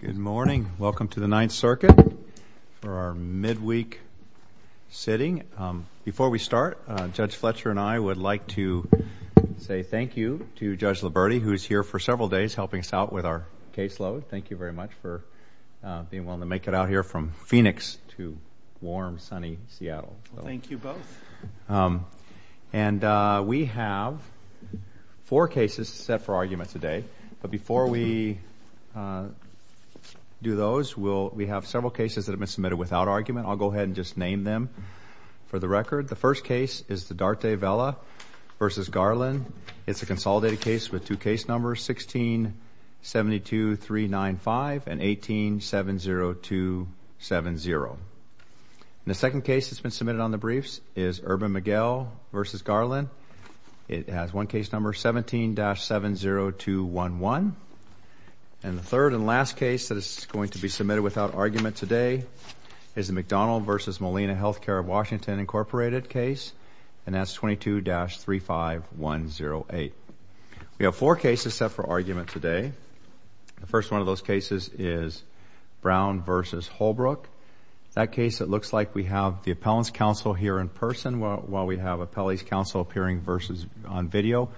Good morning. Welcome to the Ninth Circuit for our midweek sitting. Before we start, Judge Fletcher and I would like to say thank you to Judge Liberti, who is here for several days helping us out with our caseload. Thank you very much for being willing to make it out here from Phoenix to warm, sunny Seattle. Thank you both. And we have four cases set for argument today, but before we do those, we have several cases that have been submitted without argument. I'll go ahead and just name them for the record. The first case is the The second case that's been submitted on the briefs is Urban Miguel v. Garland. It has one case number 17-70211. And the third and last case that is going to be submitted without argument today is the McDonald v. Molina Healthcare of Washington, Inc. case, and that's 22-35108. We have four cases set for argument today. The first one of those cases is Brown v. Holbrook. In that case, it looks like we have the Appellant's Counsel here in person while we have Appellee's Counsel appearing on video.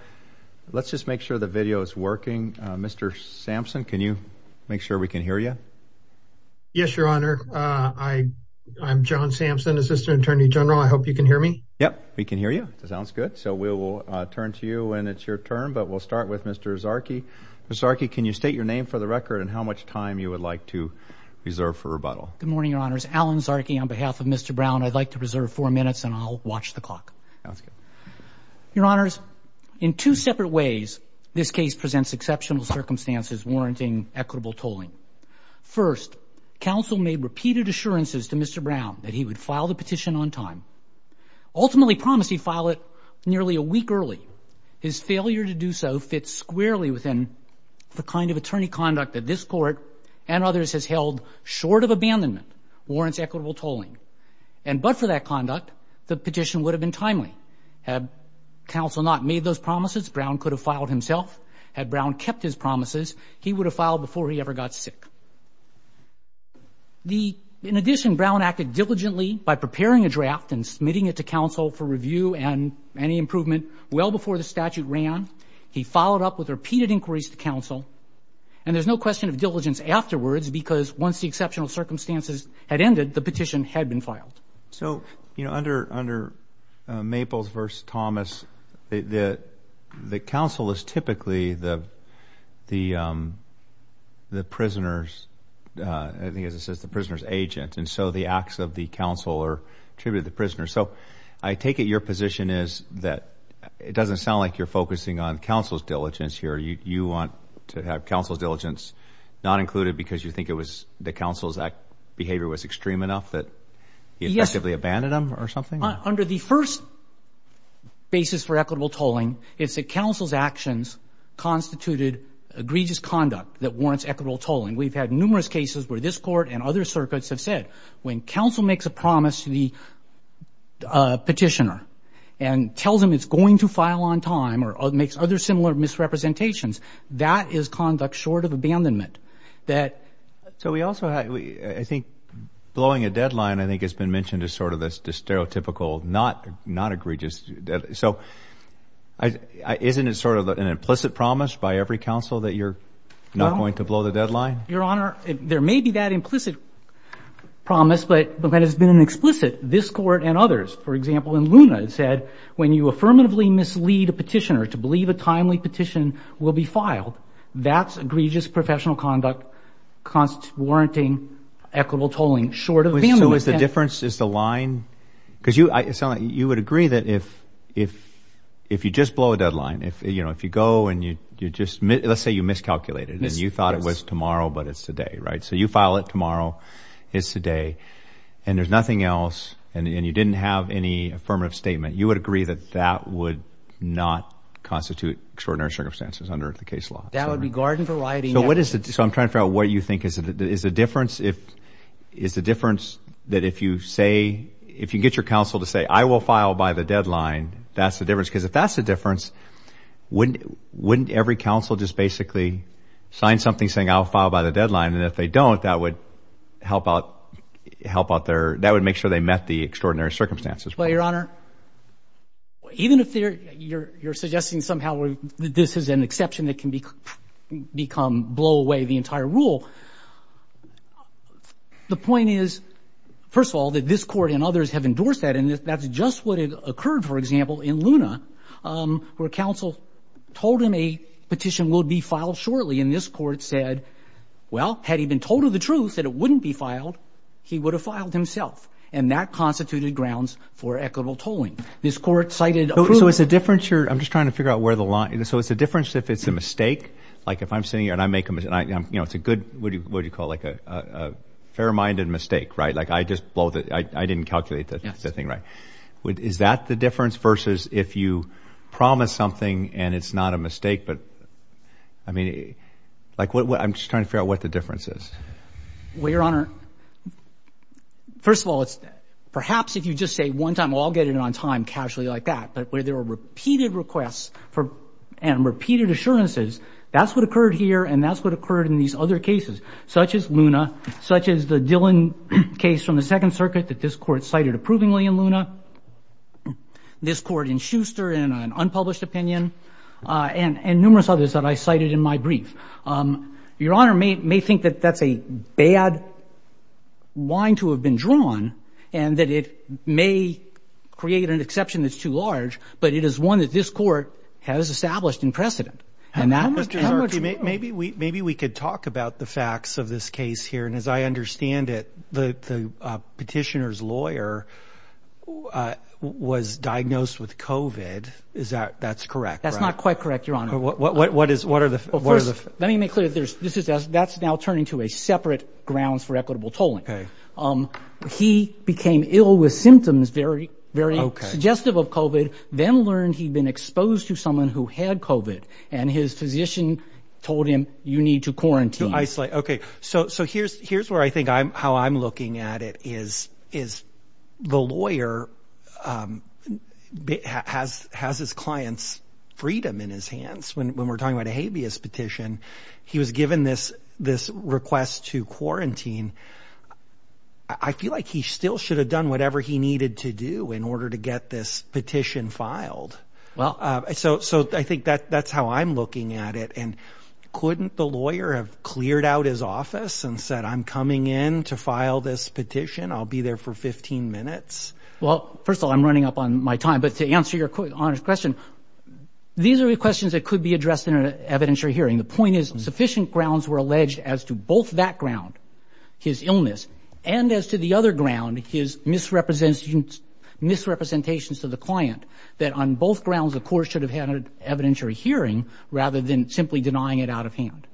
Let's just make sure the video is working. Mr. Sampson, can you make sure we can hear you? Yes, Your Honor. I'm John Sampson, Assistant Attorney General. I hope you can hear me. Yep, we can hear you. That sounds good. So we will turn to you and it's Mr. Zarki. Mr. Zarki, can you state your name for the record and how much time you would like to reserve for rebuttal? Good morning, Your Honors. Alan Zarki on behalf of Mr. Brown. I'd like to preserve four minutes, and I'll watch the clock. That's good. Your Honors, in two separate ways, this case presents exceptional circumstances warranting equitable tolling. First, counsel made repeated assurances to Mr. Brown that he would file the petition on time. Ultimately promised he'd file it nearly a week early. His failure to do so fits squarely within the kind of attorney conduct that this Court and others has held short of abandonment warrants equitable tolling. And but for that conduct, the petition would have been timely. Had counsel not made those promises, Brown could have filed himself. Had Brown kept his promises, he would have filed before he ever got sick. In addition, Brown acted diligently by preparing a draft and submitting it to counsel for review and any improvement well before the statute ran. He followed up with repeated inquiries to counsel, and there's no question of diligence afterwards because once the exceptional circumstances had ended, the petition had been filed. So, you know, under under Maples v. Thomas, the counsel is typically the prisoner's, I think as it says, the prisoner's agent, and so the acts of the it doesn't sound like you're focusing on counsel's diligence here. You want to have counsel's diligence not included because you think it was the counsel's act behavior was extreme enough that he effectively abandoned him or something? Under the first basis for equitable tolling, it's the counsel's actions constituted egregious conduct that warrants equitable tolling. We've had numerous cases where this Court and other circuits have said when counsel makes a promise to the petitioner and tells him it's going to file on time or makes other similar misrepresentations, that is conduct short of abandonment. So we also have, I think blowing a deadline I think has been mentioned as sort of this stereotypical, not egregious deadline. So isn't it sort of an implicit promise by every counsel that you're not going to blow the deadline? Your Honor, there may be that implicit promise, but that has been an explicit. This Court and others, for example, in Luna, said when you affirmatively mislead a petitioner to believe a timely petition will be filed, that's egregious professional conduct warranting equitable tolling short of abandonment. So is the difference, is the line, because you sound like you would agree that if you just blow a deadline, if you go and you just, let's say you miscalculated and you thought it was tomorrow but it's today, right? So you file it tomorrow, it's today, and there's nothing else and you didn't have any affirmative statement, you would agree that that would not constitute extraordinary circumstances under the case law? That would be garden variety. So what is the, so I'm trying to figure out what you think is the difference if, is the difference that if you say, if you get your counsel to say, I will file by the deadline, that's the difference? Because if that's the difference, wouldn't every counsel just basically sign something saying I'll file by the deadline and if they don't, that would help out their, that would make sure they met the extraordinary circumstances? Well, Your Honor, even if you're suggesting somehow that this is an exception that can become, blow away the entire rule, the point is, first of all, that this Court and others have endorsed that and that's just what occurred, for example, in Luna, where counsel told him a petition would be filed shortly and this Court said, well, had he been told of the truth that it wouldn't be filed, he would have filed himself and that constituted grounds for equitable tolling. This Court cited approval. So it's a difference here, I'm just trying to figure out where the line, so it's a difference if it's a mistake, like if I'm sitting here and I make a, you know, it's a good, what do you call it, like a fair-minded mistake, right? Like I just blow the, I didn't calculate that thing right. Is that the difference versus if you promise something and it's not a mistake, but, I mean, like what, I'm just trying to figure out what the difference is. Well, Your Honor, first of all, it's perhaps if you just say one time, I'll get it on time casually like that, but where there were repeated requests for, and repeated assurances, that's what occurred here and that's what occurred in these other cases, such as Luna, such as the Dillon case from the Second Circuit that this Court cited approvingly in Luna, this Court in Schuster in an unpublished opinion, and numerous others that I cited in my brief. Your Honor may think that that's a bad line to have been drawn and that it may create an exception that's too large, but it is one that this Court has established in precedent. And that, maybe we could talk about the facts of this case here, and as I understand it, the petitioner's lawyer was diagnosed with COVID. Is that, that's correct? That's not quite correct, Your Honor. What is, what are the... First, let me make clear, this is, that's now turning to a separate grounds for equitable tolling. He became ill with symptoms, very, very suggestive of COVID, then learned he'd been exposed to someone who had COVID and his physician told him, you need to quarantine. To isolate. Okay. So, so here's, here's where I think I'm, how I'm looking at it is, is the lawyer has, has his client's freedom in his hands. When, when we're talking about a habeas petition, he was given this, this request to quarantine. I feel like he still should have done whatever he needed to do in order to get this petition filed. So, so I think that, that's how I'm looking at it. And couldn't the lawyer have cleared out his office and said, I'm coming in to file this petition. I'll be there for 15 minutes. Well, first of all, I'm running up on my time, but to answer your question, these are the questions that could be addressed in an evidentiary hearing. The point is sufficient grounds were alleged as to both that ground, his illness, and as to the other ground, his misrepresentations, misrepresentations to the client that on both grounds, the court should have had an evidentiary hearing rather than simply denying it out of hand.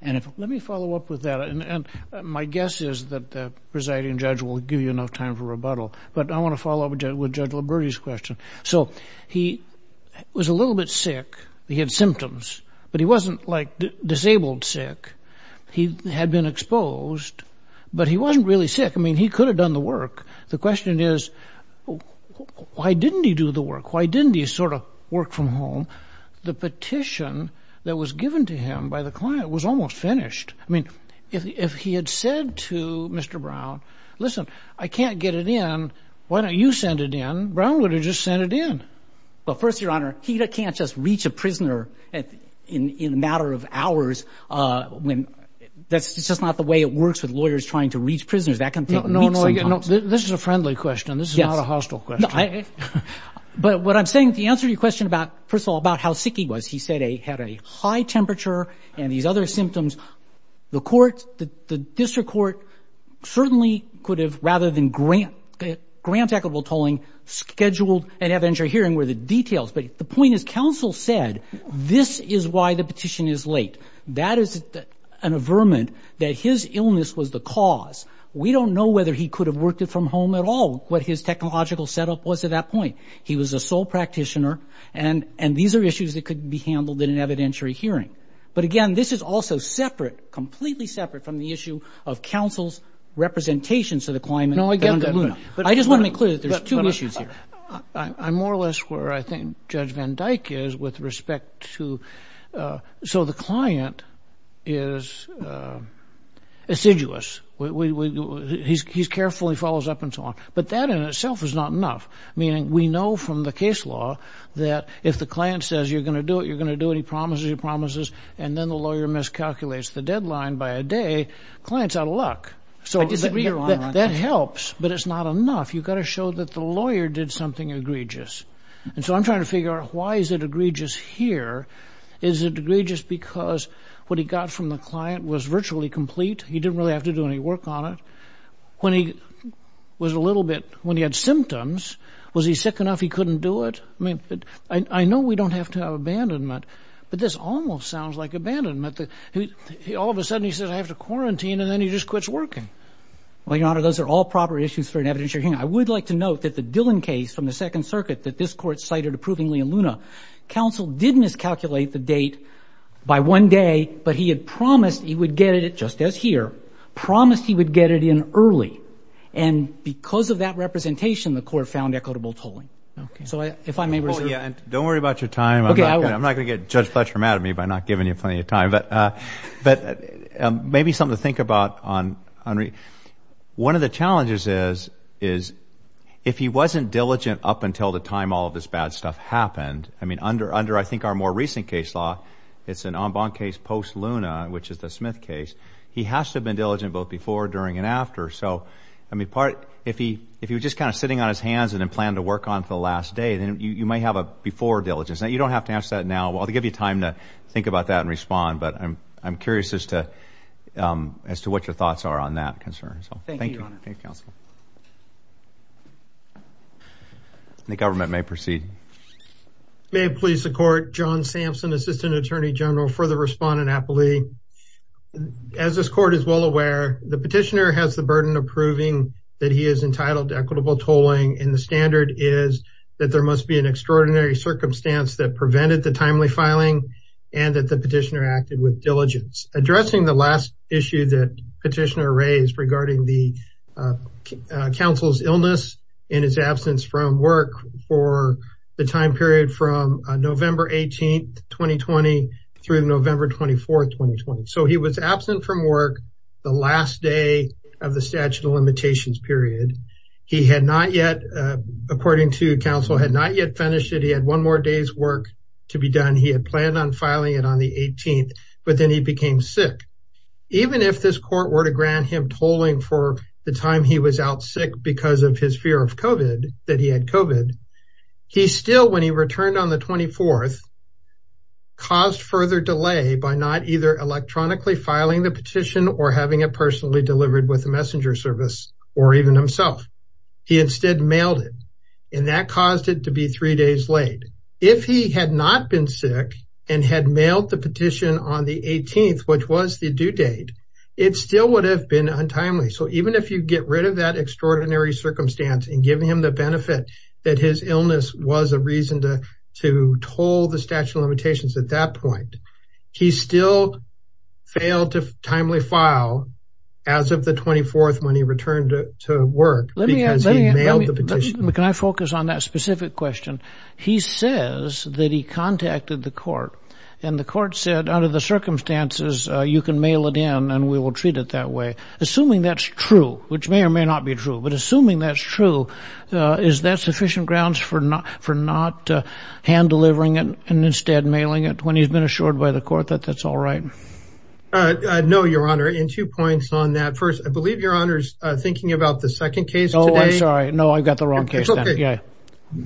And if, let me follow up with that. And my guess is that the presiding judge will give you enough time for rebuttal, but I want to follow up with judge, with judge Liberty's question. So he was a little bit sick. He had symptoms, but he wasn't like disabled sick. He had been exposed, but he wasn't really sick. I mean, he could have done the work. The question is, why didn't he do the work? Why didn't he sort of work from home? The petition that was given to him by the client was almost finished. I mean, if he had said to Mr. Brown, listen, I can't get it in. Why don't you send it in? Brown would have just sent it in. Well, first your honor, he can't just reach a prisoner at in, in a matter of hours. Uh, that's just not the way it works with lawyers trying to reach prisoners. That can take weeks. This is a friendly question. This is not a hostile question. But what I'm saying, the answer to your question about, first of all, about how sick he was, he said he had a high temperature and these other symptoms. The court, the district court certainly could have, rather than grant, grant equitable tolling, scheduled an evidentiary hearing where the details, but the point is counsel said, this is why the petition is late. That is an averment that his illness was the cause. We don't know whether he could have worked it from home at all. What his technological setup was at that point. He was a sole practitioner and, and these are issues that could be handled in an evidentiary hearing. But again, this is also separate, completely separate from the issue of counsel's representations to the climate. I just want to make clear that there's two issues here. I'm more or less where I think Judge Van Dyke is with respect to, so the client is assiduous. He's carefully follows up and so on, but that in itself is not enough. Meaning we know from the case law that if the client says, you're going to do it, you're going to do it. He promises, he promises. And then the lawyer miscalculates the deadline by a day, client's out of luck. So that helps, but it's not enough. You've got to show that the lawyer did something egregious. And so I'm trying to figure out why is it egregious here? Is it egregious because what he got from the client was virtually complete? He didn't really have to do any work on it. When he was a little bit, when he had symptoms, was he sick enough? He couldn't do it. I mean, I know we don't have to have abandonment, but this almost sounds like abandonment. All of a sudden he says, I have to quarantine. And then he just quits working. Well, Your Honor, those are all proper issues for an evidentiary hearing. I would like to note that the Dillon case from the Second Circuit that this court cited approvingly in Luna, counsel didn't miscalculate the date by one day, but he had promised he would get it, just as here, promised he would get it in early. And because of that representation, the court found equitable tolling. So if I may reserve. Yeah. And don't worry about your time. I'm not going to get Judge Fletcher mad at me by not giving you plenty of time, but maybe something to think about. On one of the challenges is, is if he wasn't diligent up until the time all of this bad stuff happened. I mean, under, under, I think our more recent case law, it's an en banc case post Luna, which is the Smith case. He has to have been diligent both before, during and after. So, I mean, part, if he, if he was just kind of sitting on his hands and then plan to work on for the last day, then you might have a before diligence that you don't have to answer that now. Well, they give you time to think about that and respond. But I'm, I'm curious as to, as to what your thoughts are on that concern. So thank you. Thank you, counsel. The government may proceed. May it please the court. John Sampson, assistant attorney general for the respondent appellee. As this court is well aware, the petitioner has the burden of proving that he is entitled to equitable tolling. And the standard is that there must be an extraordinary circumstance that prevented the timely filing and that the petitioner acted with diligence. Addressing the last issue that petitioner raised regarding the counsel's illness in his absence from work for the time period from November 18th, 2020 through November 24th, 2020. So he was absent from work the last day of the statute of limitations period. He had not yet, according to counsel, had not yet finished it. He had one more day's work to be done. He had planned on filing it on the 18th, but then he became sick. Even if this court were to grant him tolling for the time he was out sick because of his fear of COVID, that he had COVID, he still, when he returned on the 24th, caused further delay by not either electronically filing the petition or having it personally delivered with a messenger service or even himself. He instead mailed it and that caused it to be three days late. If he had not been sick and had mailed the petition on the 18th, which was the due date, it still would have been untimely. So even if you get rid of that extraordinary circumstance and giving him the benefit that his illness was a reason to toll the statute of limitations at that point, he still failed to timely file as of the 24th when he returned to work because he mailed the petition. Can I focus on that specific question? He says that he contacted the court and the court said, under the circumstances, you can mail it in and we will treat it that way. Assuming that's true, which may or may not be true, but assuming that's true, is that sufficient grounds for not for not hand delivering it and instead mailing it when he's been assured by the court that that's all right? No, Your Honor. In two points on that. First, I believe Your Honor's thinking about the second case. Oh, I'm sorry. No, I got the wrong case. Yeah.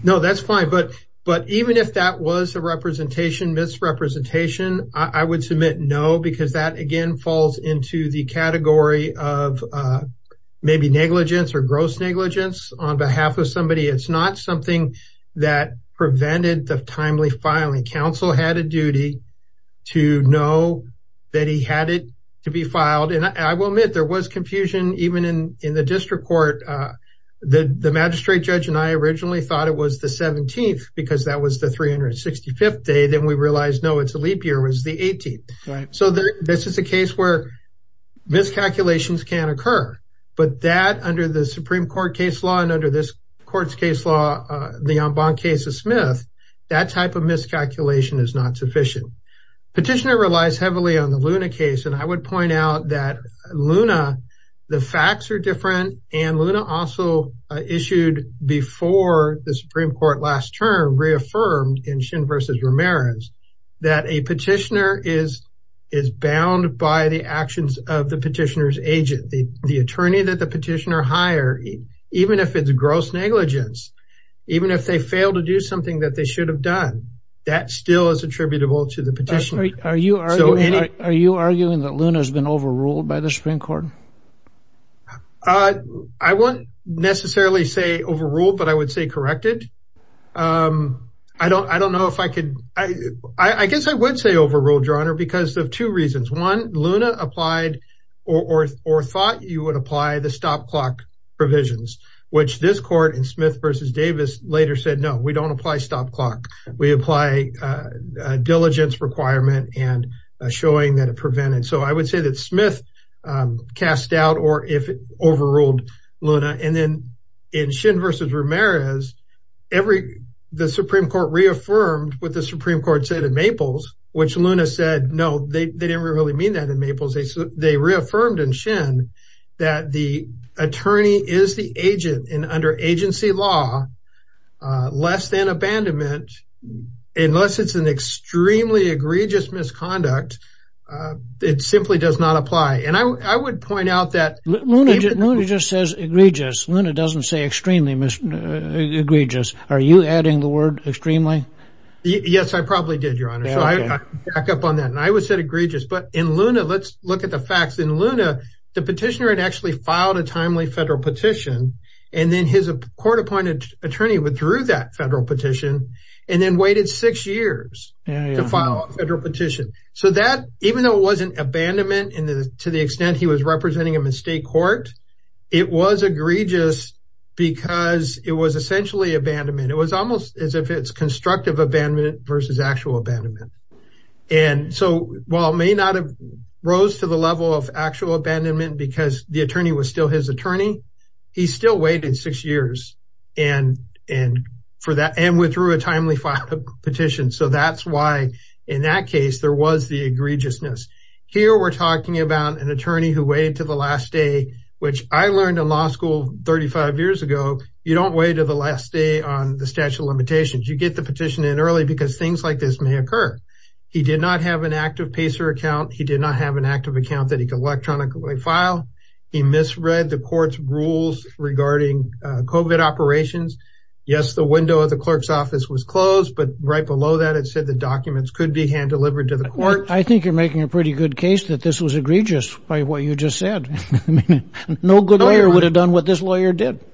No, that's fine. But even if that was a representation, misrepresentation, I would submit no, because that again falls into the category of maybe negligence or gross negligence on behalf of somebody. It's not something that that he had it to be filed. And I will admit there was confusion even in the district court. The magistrate judge and I originally thought it was the 17th because that was the 365th day. Then we realized, no, it's a leap year was the 18th. So this is a case where miscalculations can occur. But that under the Supreme Court case law and under this court's case law, the Ambon case of Smith, that type of miscalculation is not sufficient. Petitioner relies heavily on the Luna case. And I would point out that Luna, the facts are different. And Luna also issued before the Supreme Court last term reaffirmed in Shin v. Ramirez that a petitioner is bound by the actions of the petitioner's agent, the attorney that the petitioner hire, even if it's gross negligence, even if they fail to do something that they should have done, that still is attributable to the petitioner. Are you arguing that Luna has been overruled by the Supreme Court? I won't necessarily say overruled, but I would say corrected. I don't know if I could. I guess I would say overruled, Your Honor, because of two reasons. One, Luna applied or thought you would the stop clock provisions, which this court in Smith v. Davis later said, no, we don't apply stop clock. We apply a diligence requirement and showing that it prevented. So I would say that Smith cast doubt or if it overruled Luna. And then in Shin v. Ramirez, the Supreme Court reaffirmed what the Supreme Court said in Maples, which Luna said, no, they didn't really mean that in Maples. They reaffirmed in Shin that the attorney is the agent and under agency law, less than abandonment, unless it's an extremely egregious misconduct, it simply does not apply. And I would point out that Luna just says egregious. Luna doesn't say extremely egregious. Are you adding the word extremely? Yes, I probably did, Your Honor. So I back up on that. And I look at the facts. In Luna, the petitioner had actually filed a timely federal petition. And then his court appointed attorney withdrew that federal petition and then waited six years to file a federal petition. So that even though it wasn't abandonment to the extent he was representing him in state court, it was egregious because it was essentially abandonment. It was almost as if it's constructive abandonment versus actual abandonment. And so while it may not have the level of actual abandonment because the attorney was still his attorney, he still waited six years and withdrew a timely petition. So that's why in that case, there was the egregiousness. Here we're talking about an attorney who waited to the last day, which I learned in law school 35 years ago, you don't wait to the last day on the statute of limitations. You get the petition in early because things like this may occur. He did not have an active PACER account. He did not have an active account that he could electronically file. He misread the court's rules regarding COVID operations. Yes, the window of the clerk's office was closed. But right below that, it said the documents could be hand delivered to the court. I think you're making a pretty good case that this was egregious by what you just said. No good lawyer would have done what this lawyer did.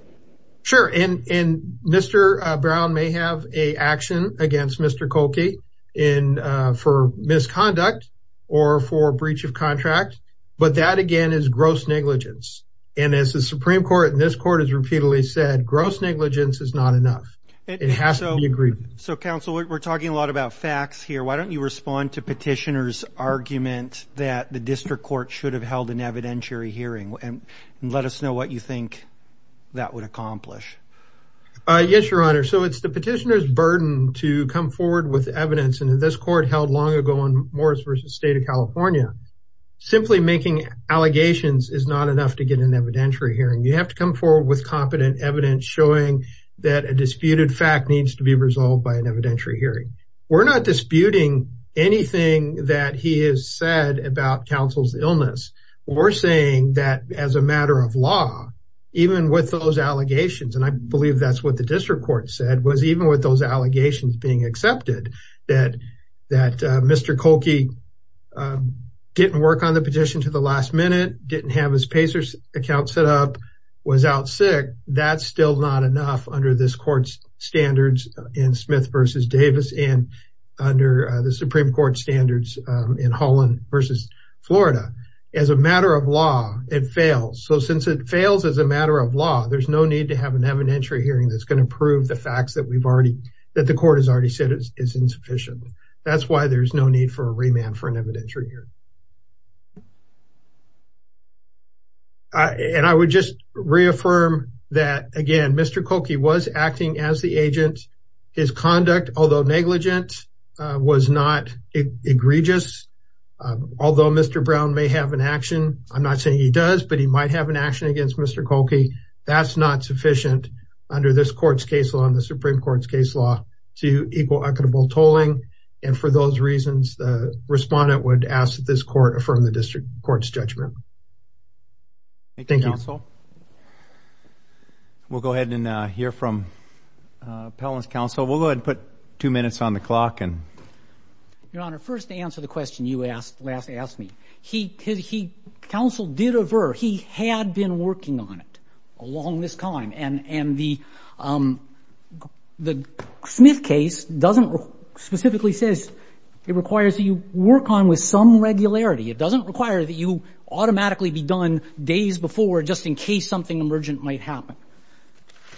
Sure. And Mr. Brown may have an action against Mr. Kolke for misconduct or for breach of contract. But that again is gross negligence. And as the Supreme Court and this court has repeatedly said, gross negligence is not enough. It has to be a grievance. So counsel, we're talking a lot about facts here. Why don't you respond to petitioner's argument that the district court should have held an evidentiary hearing and let us know what you would accomplish. Yes, your honor. So it's the petitioner's burden to come forward with evidence in this court held long ago on Morris versus State of California. Simply making allegations is not enough to get an evidentiary hearing. You have to come forward with competent evidence showing that a disputed fact needs to be resolved by an evidentiary hearing. We're not disputing anything that he has said about counsel's illness. We're saying that as a matter of law, even with those allegations, and I believe that's what the district court said, was even with those allegations being accepted, that Mr. Kolke didn't work on the petition to the last minute, didn't have his PACERS account set up, was out sick, that's still not enough under this court's standards in Smith versus Davis and under the Supreme Court standards in Holland versus Florida. As a matter of law, it fails. So since it fails as a matter of law, there's no need to have an evidentiary hearing that's going to prove the facts that we've already, that the court has already said is insufficient. That's why there's no need for a remand for an evidentiary hearing. And I would just reaffirm that, again, Mr. Kolke was acting as the agent. His conduct, although negligent, was not egregious. Although Mr. Brown may have an action, I'm not saying he does, but he might have an action against Mr. Kolke. That's not sufficient under this court's case law and the Supreme Court's case law to equal equitable tolling. And for those reasons, the respondent would ask that this court affirm the district court's appellant's counsel. We'll go ahead and put two minutes on the clock. Your Honor, first to answer the question you asked, last asked me, he, his, he, counsel did aver. He had been working on it along this time. And, and the, the Smith case doesn't specifically says it requires that you work on with some regularity. It doesn't require that you automatically be done days before, just in case something emergent might happen.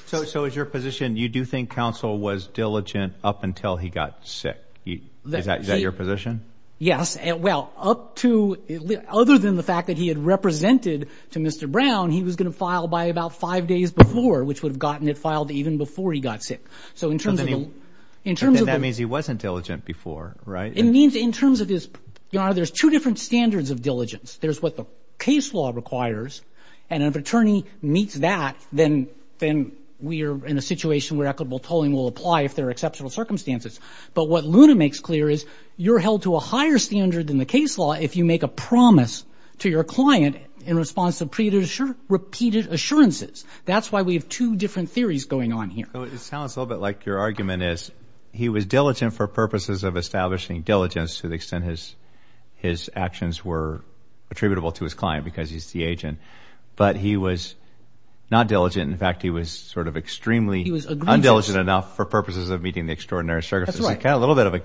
So, so is your position, you do think counsel was diligent up until he got sick? Is that your position? Yes. Well, up to, other than the fact that he had represented to Mr. Brown, he was going to file by about five days before, which would have gotten it filed even before he got sick. So in terms of, in terms of, that means he wasn't diligent before, right? It means in terms of his, Your Honor, there's two different standards of diligence. There's what the case law requires. And if an attorney meets that, then, then we are in a situation where equitable tolling will apply if there are exceptional circumstances. But what Luna makes clear is you're held to a higher standard than the case law if you make a promise to your client in response to repeated assurances. That's why we have two different theories going on here. It sounds a little bit like your argument is he was diligent for purposes of establishing diligence to the extent his, his actions were attributable to his client because he's the agent, but he was not diligent. In fact, he was sort of extremely, he was undiligent enough for purposes of meeting the extraordinary circumstances. Kind of a little bit of a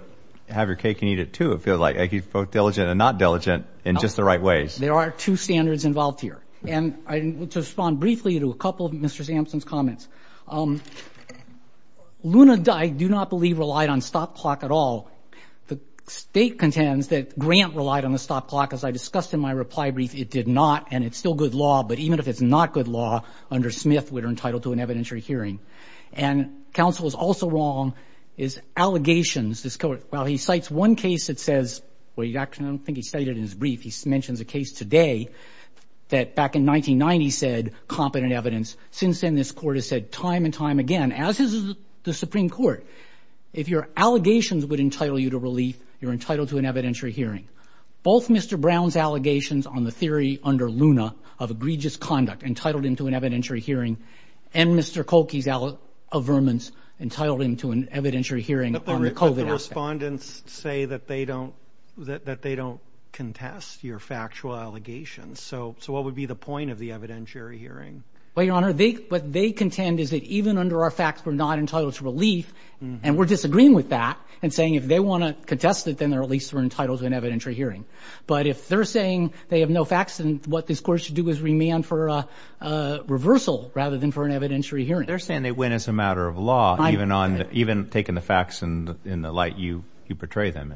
have your cake and eat it too. It feels like he's both diligent and not diligent in just the right ways. There are two standards involved here. And to respond briefly to a couple of Mr. Sampson's comments, Luna, I do not believe relied on stop clock at all. The state contends that grant relied on the stop clock. As I discussed in my reply brief, it did not. And it's still good law, but even if it's not good law under Smith, we're entitled to an evidentiary hearing. And counsel is also wrong is allegations. This court, while he cites one case that says, well, you actually don't think he studied it in his brief. He mentions a case today that back in 1990 said competent evidence since then, this court has said time and time again, as is the Supreme Court. If your allegations would entitle you to relief, you're entitled to an evidentiary hearing. Both Mr. Brown's allegations on the theory under Luna of egregious conduct entitled into an evidentiary hearing and Mr. Cokie's out of vermin's entitled him to an evidentiary hearing. But the respondents say that they don't, that they don't contest your factual allegations. So, so what would be the point of the evidentiary hearing? Well, your honor, what they contend is that even under our facts, we're not entitled to relief and we're disagreeing with that and saying, if they want to contest it, then they're at least we're entitled to an evidentiary hearing. But if they're saying they have no facts and what this court should do is remand for a reversal rather than for an evidentiary hearing, they're saying they win as a matter of law, even on even taking the facts and in the light you, you portray them.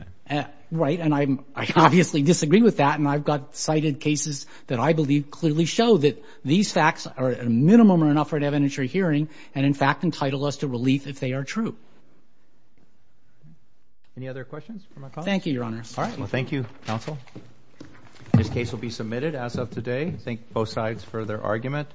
Right. And I'm, I obviously disagree with that. And I've got cited cases that I believe clearly show that these facts are a minimum or enough for an evidentiary hearing. And in fact, entitled us to relief if they are true. Any other questions for my colleagues? Thank you, your honor. All right. Well, thank you counsel. This case will be submitted as of today. Thank both sides for their argument.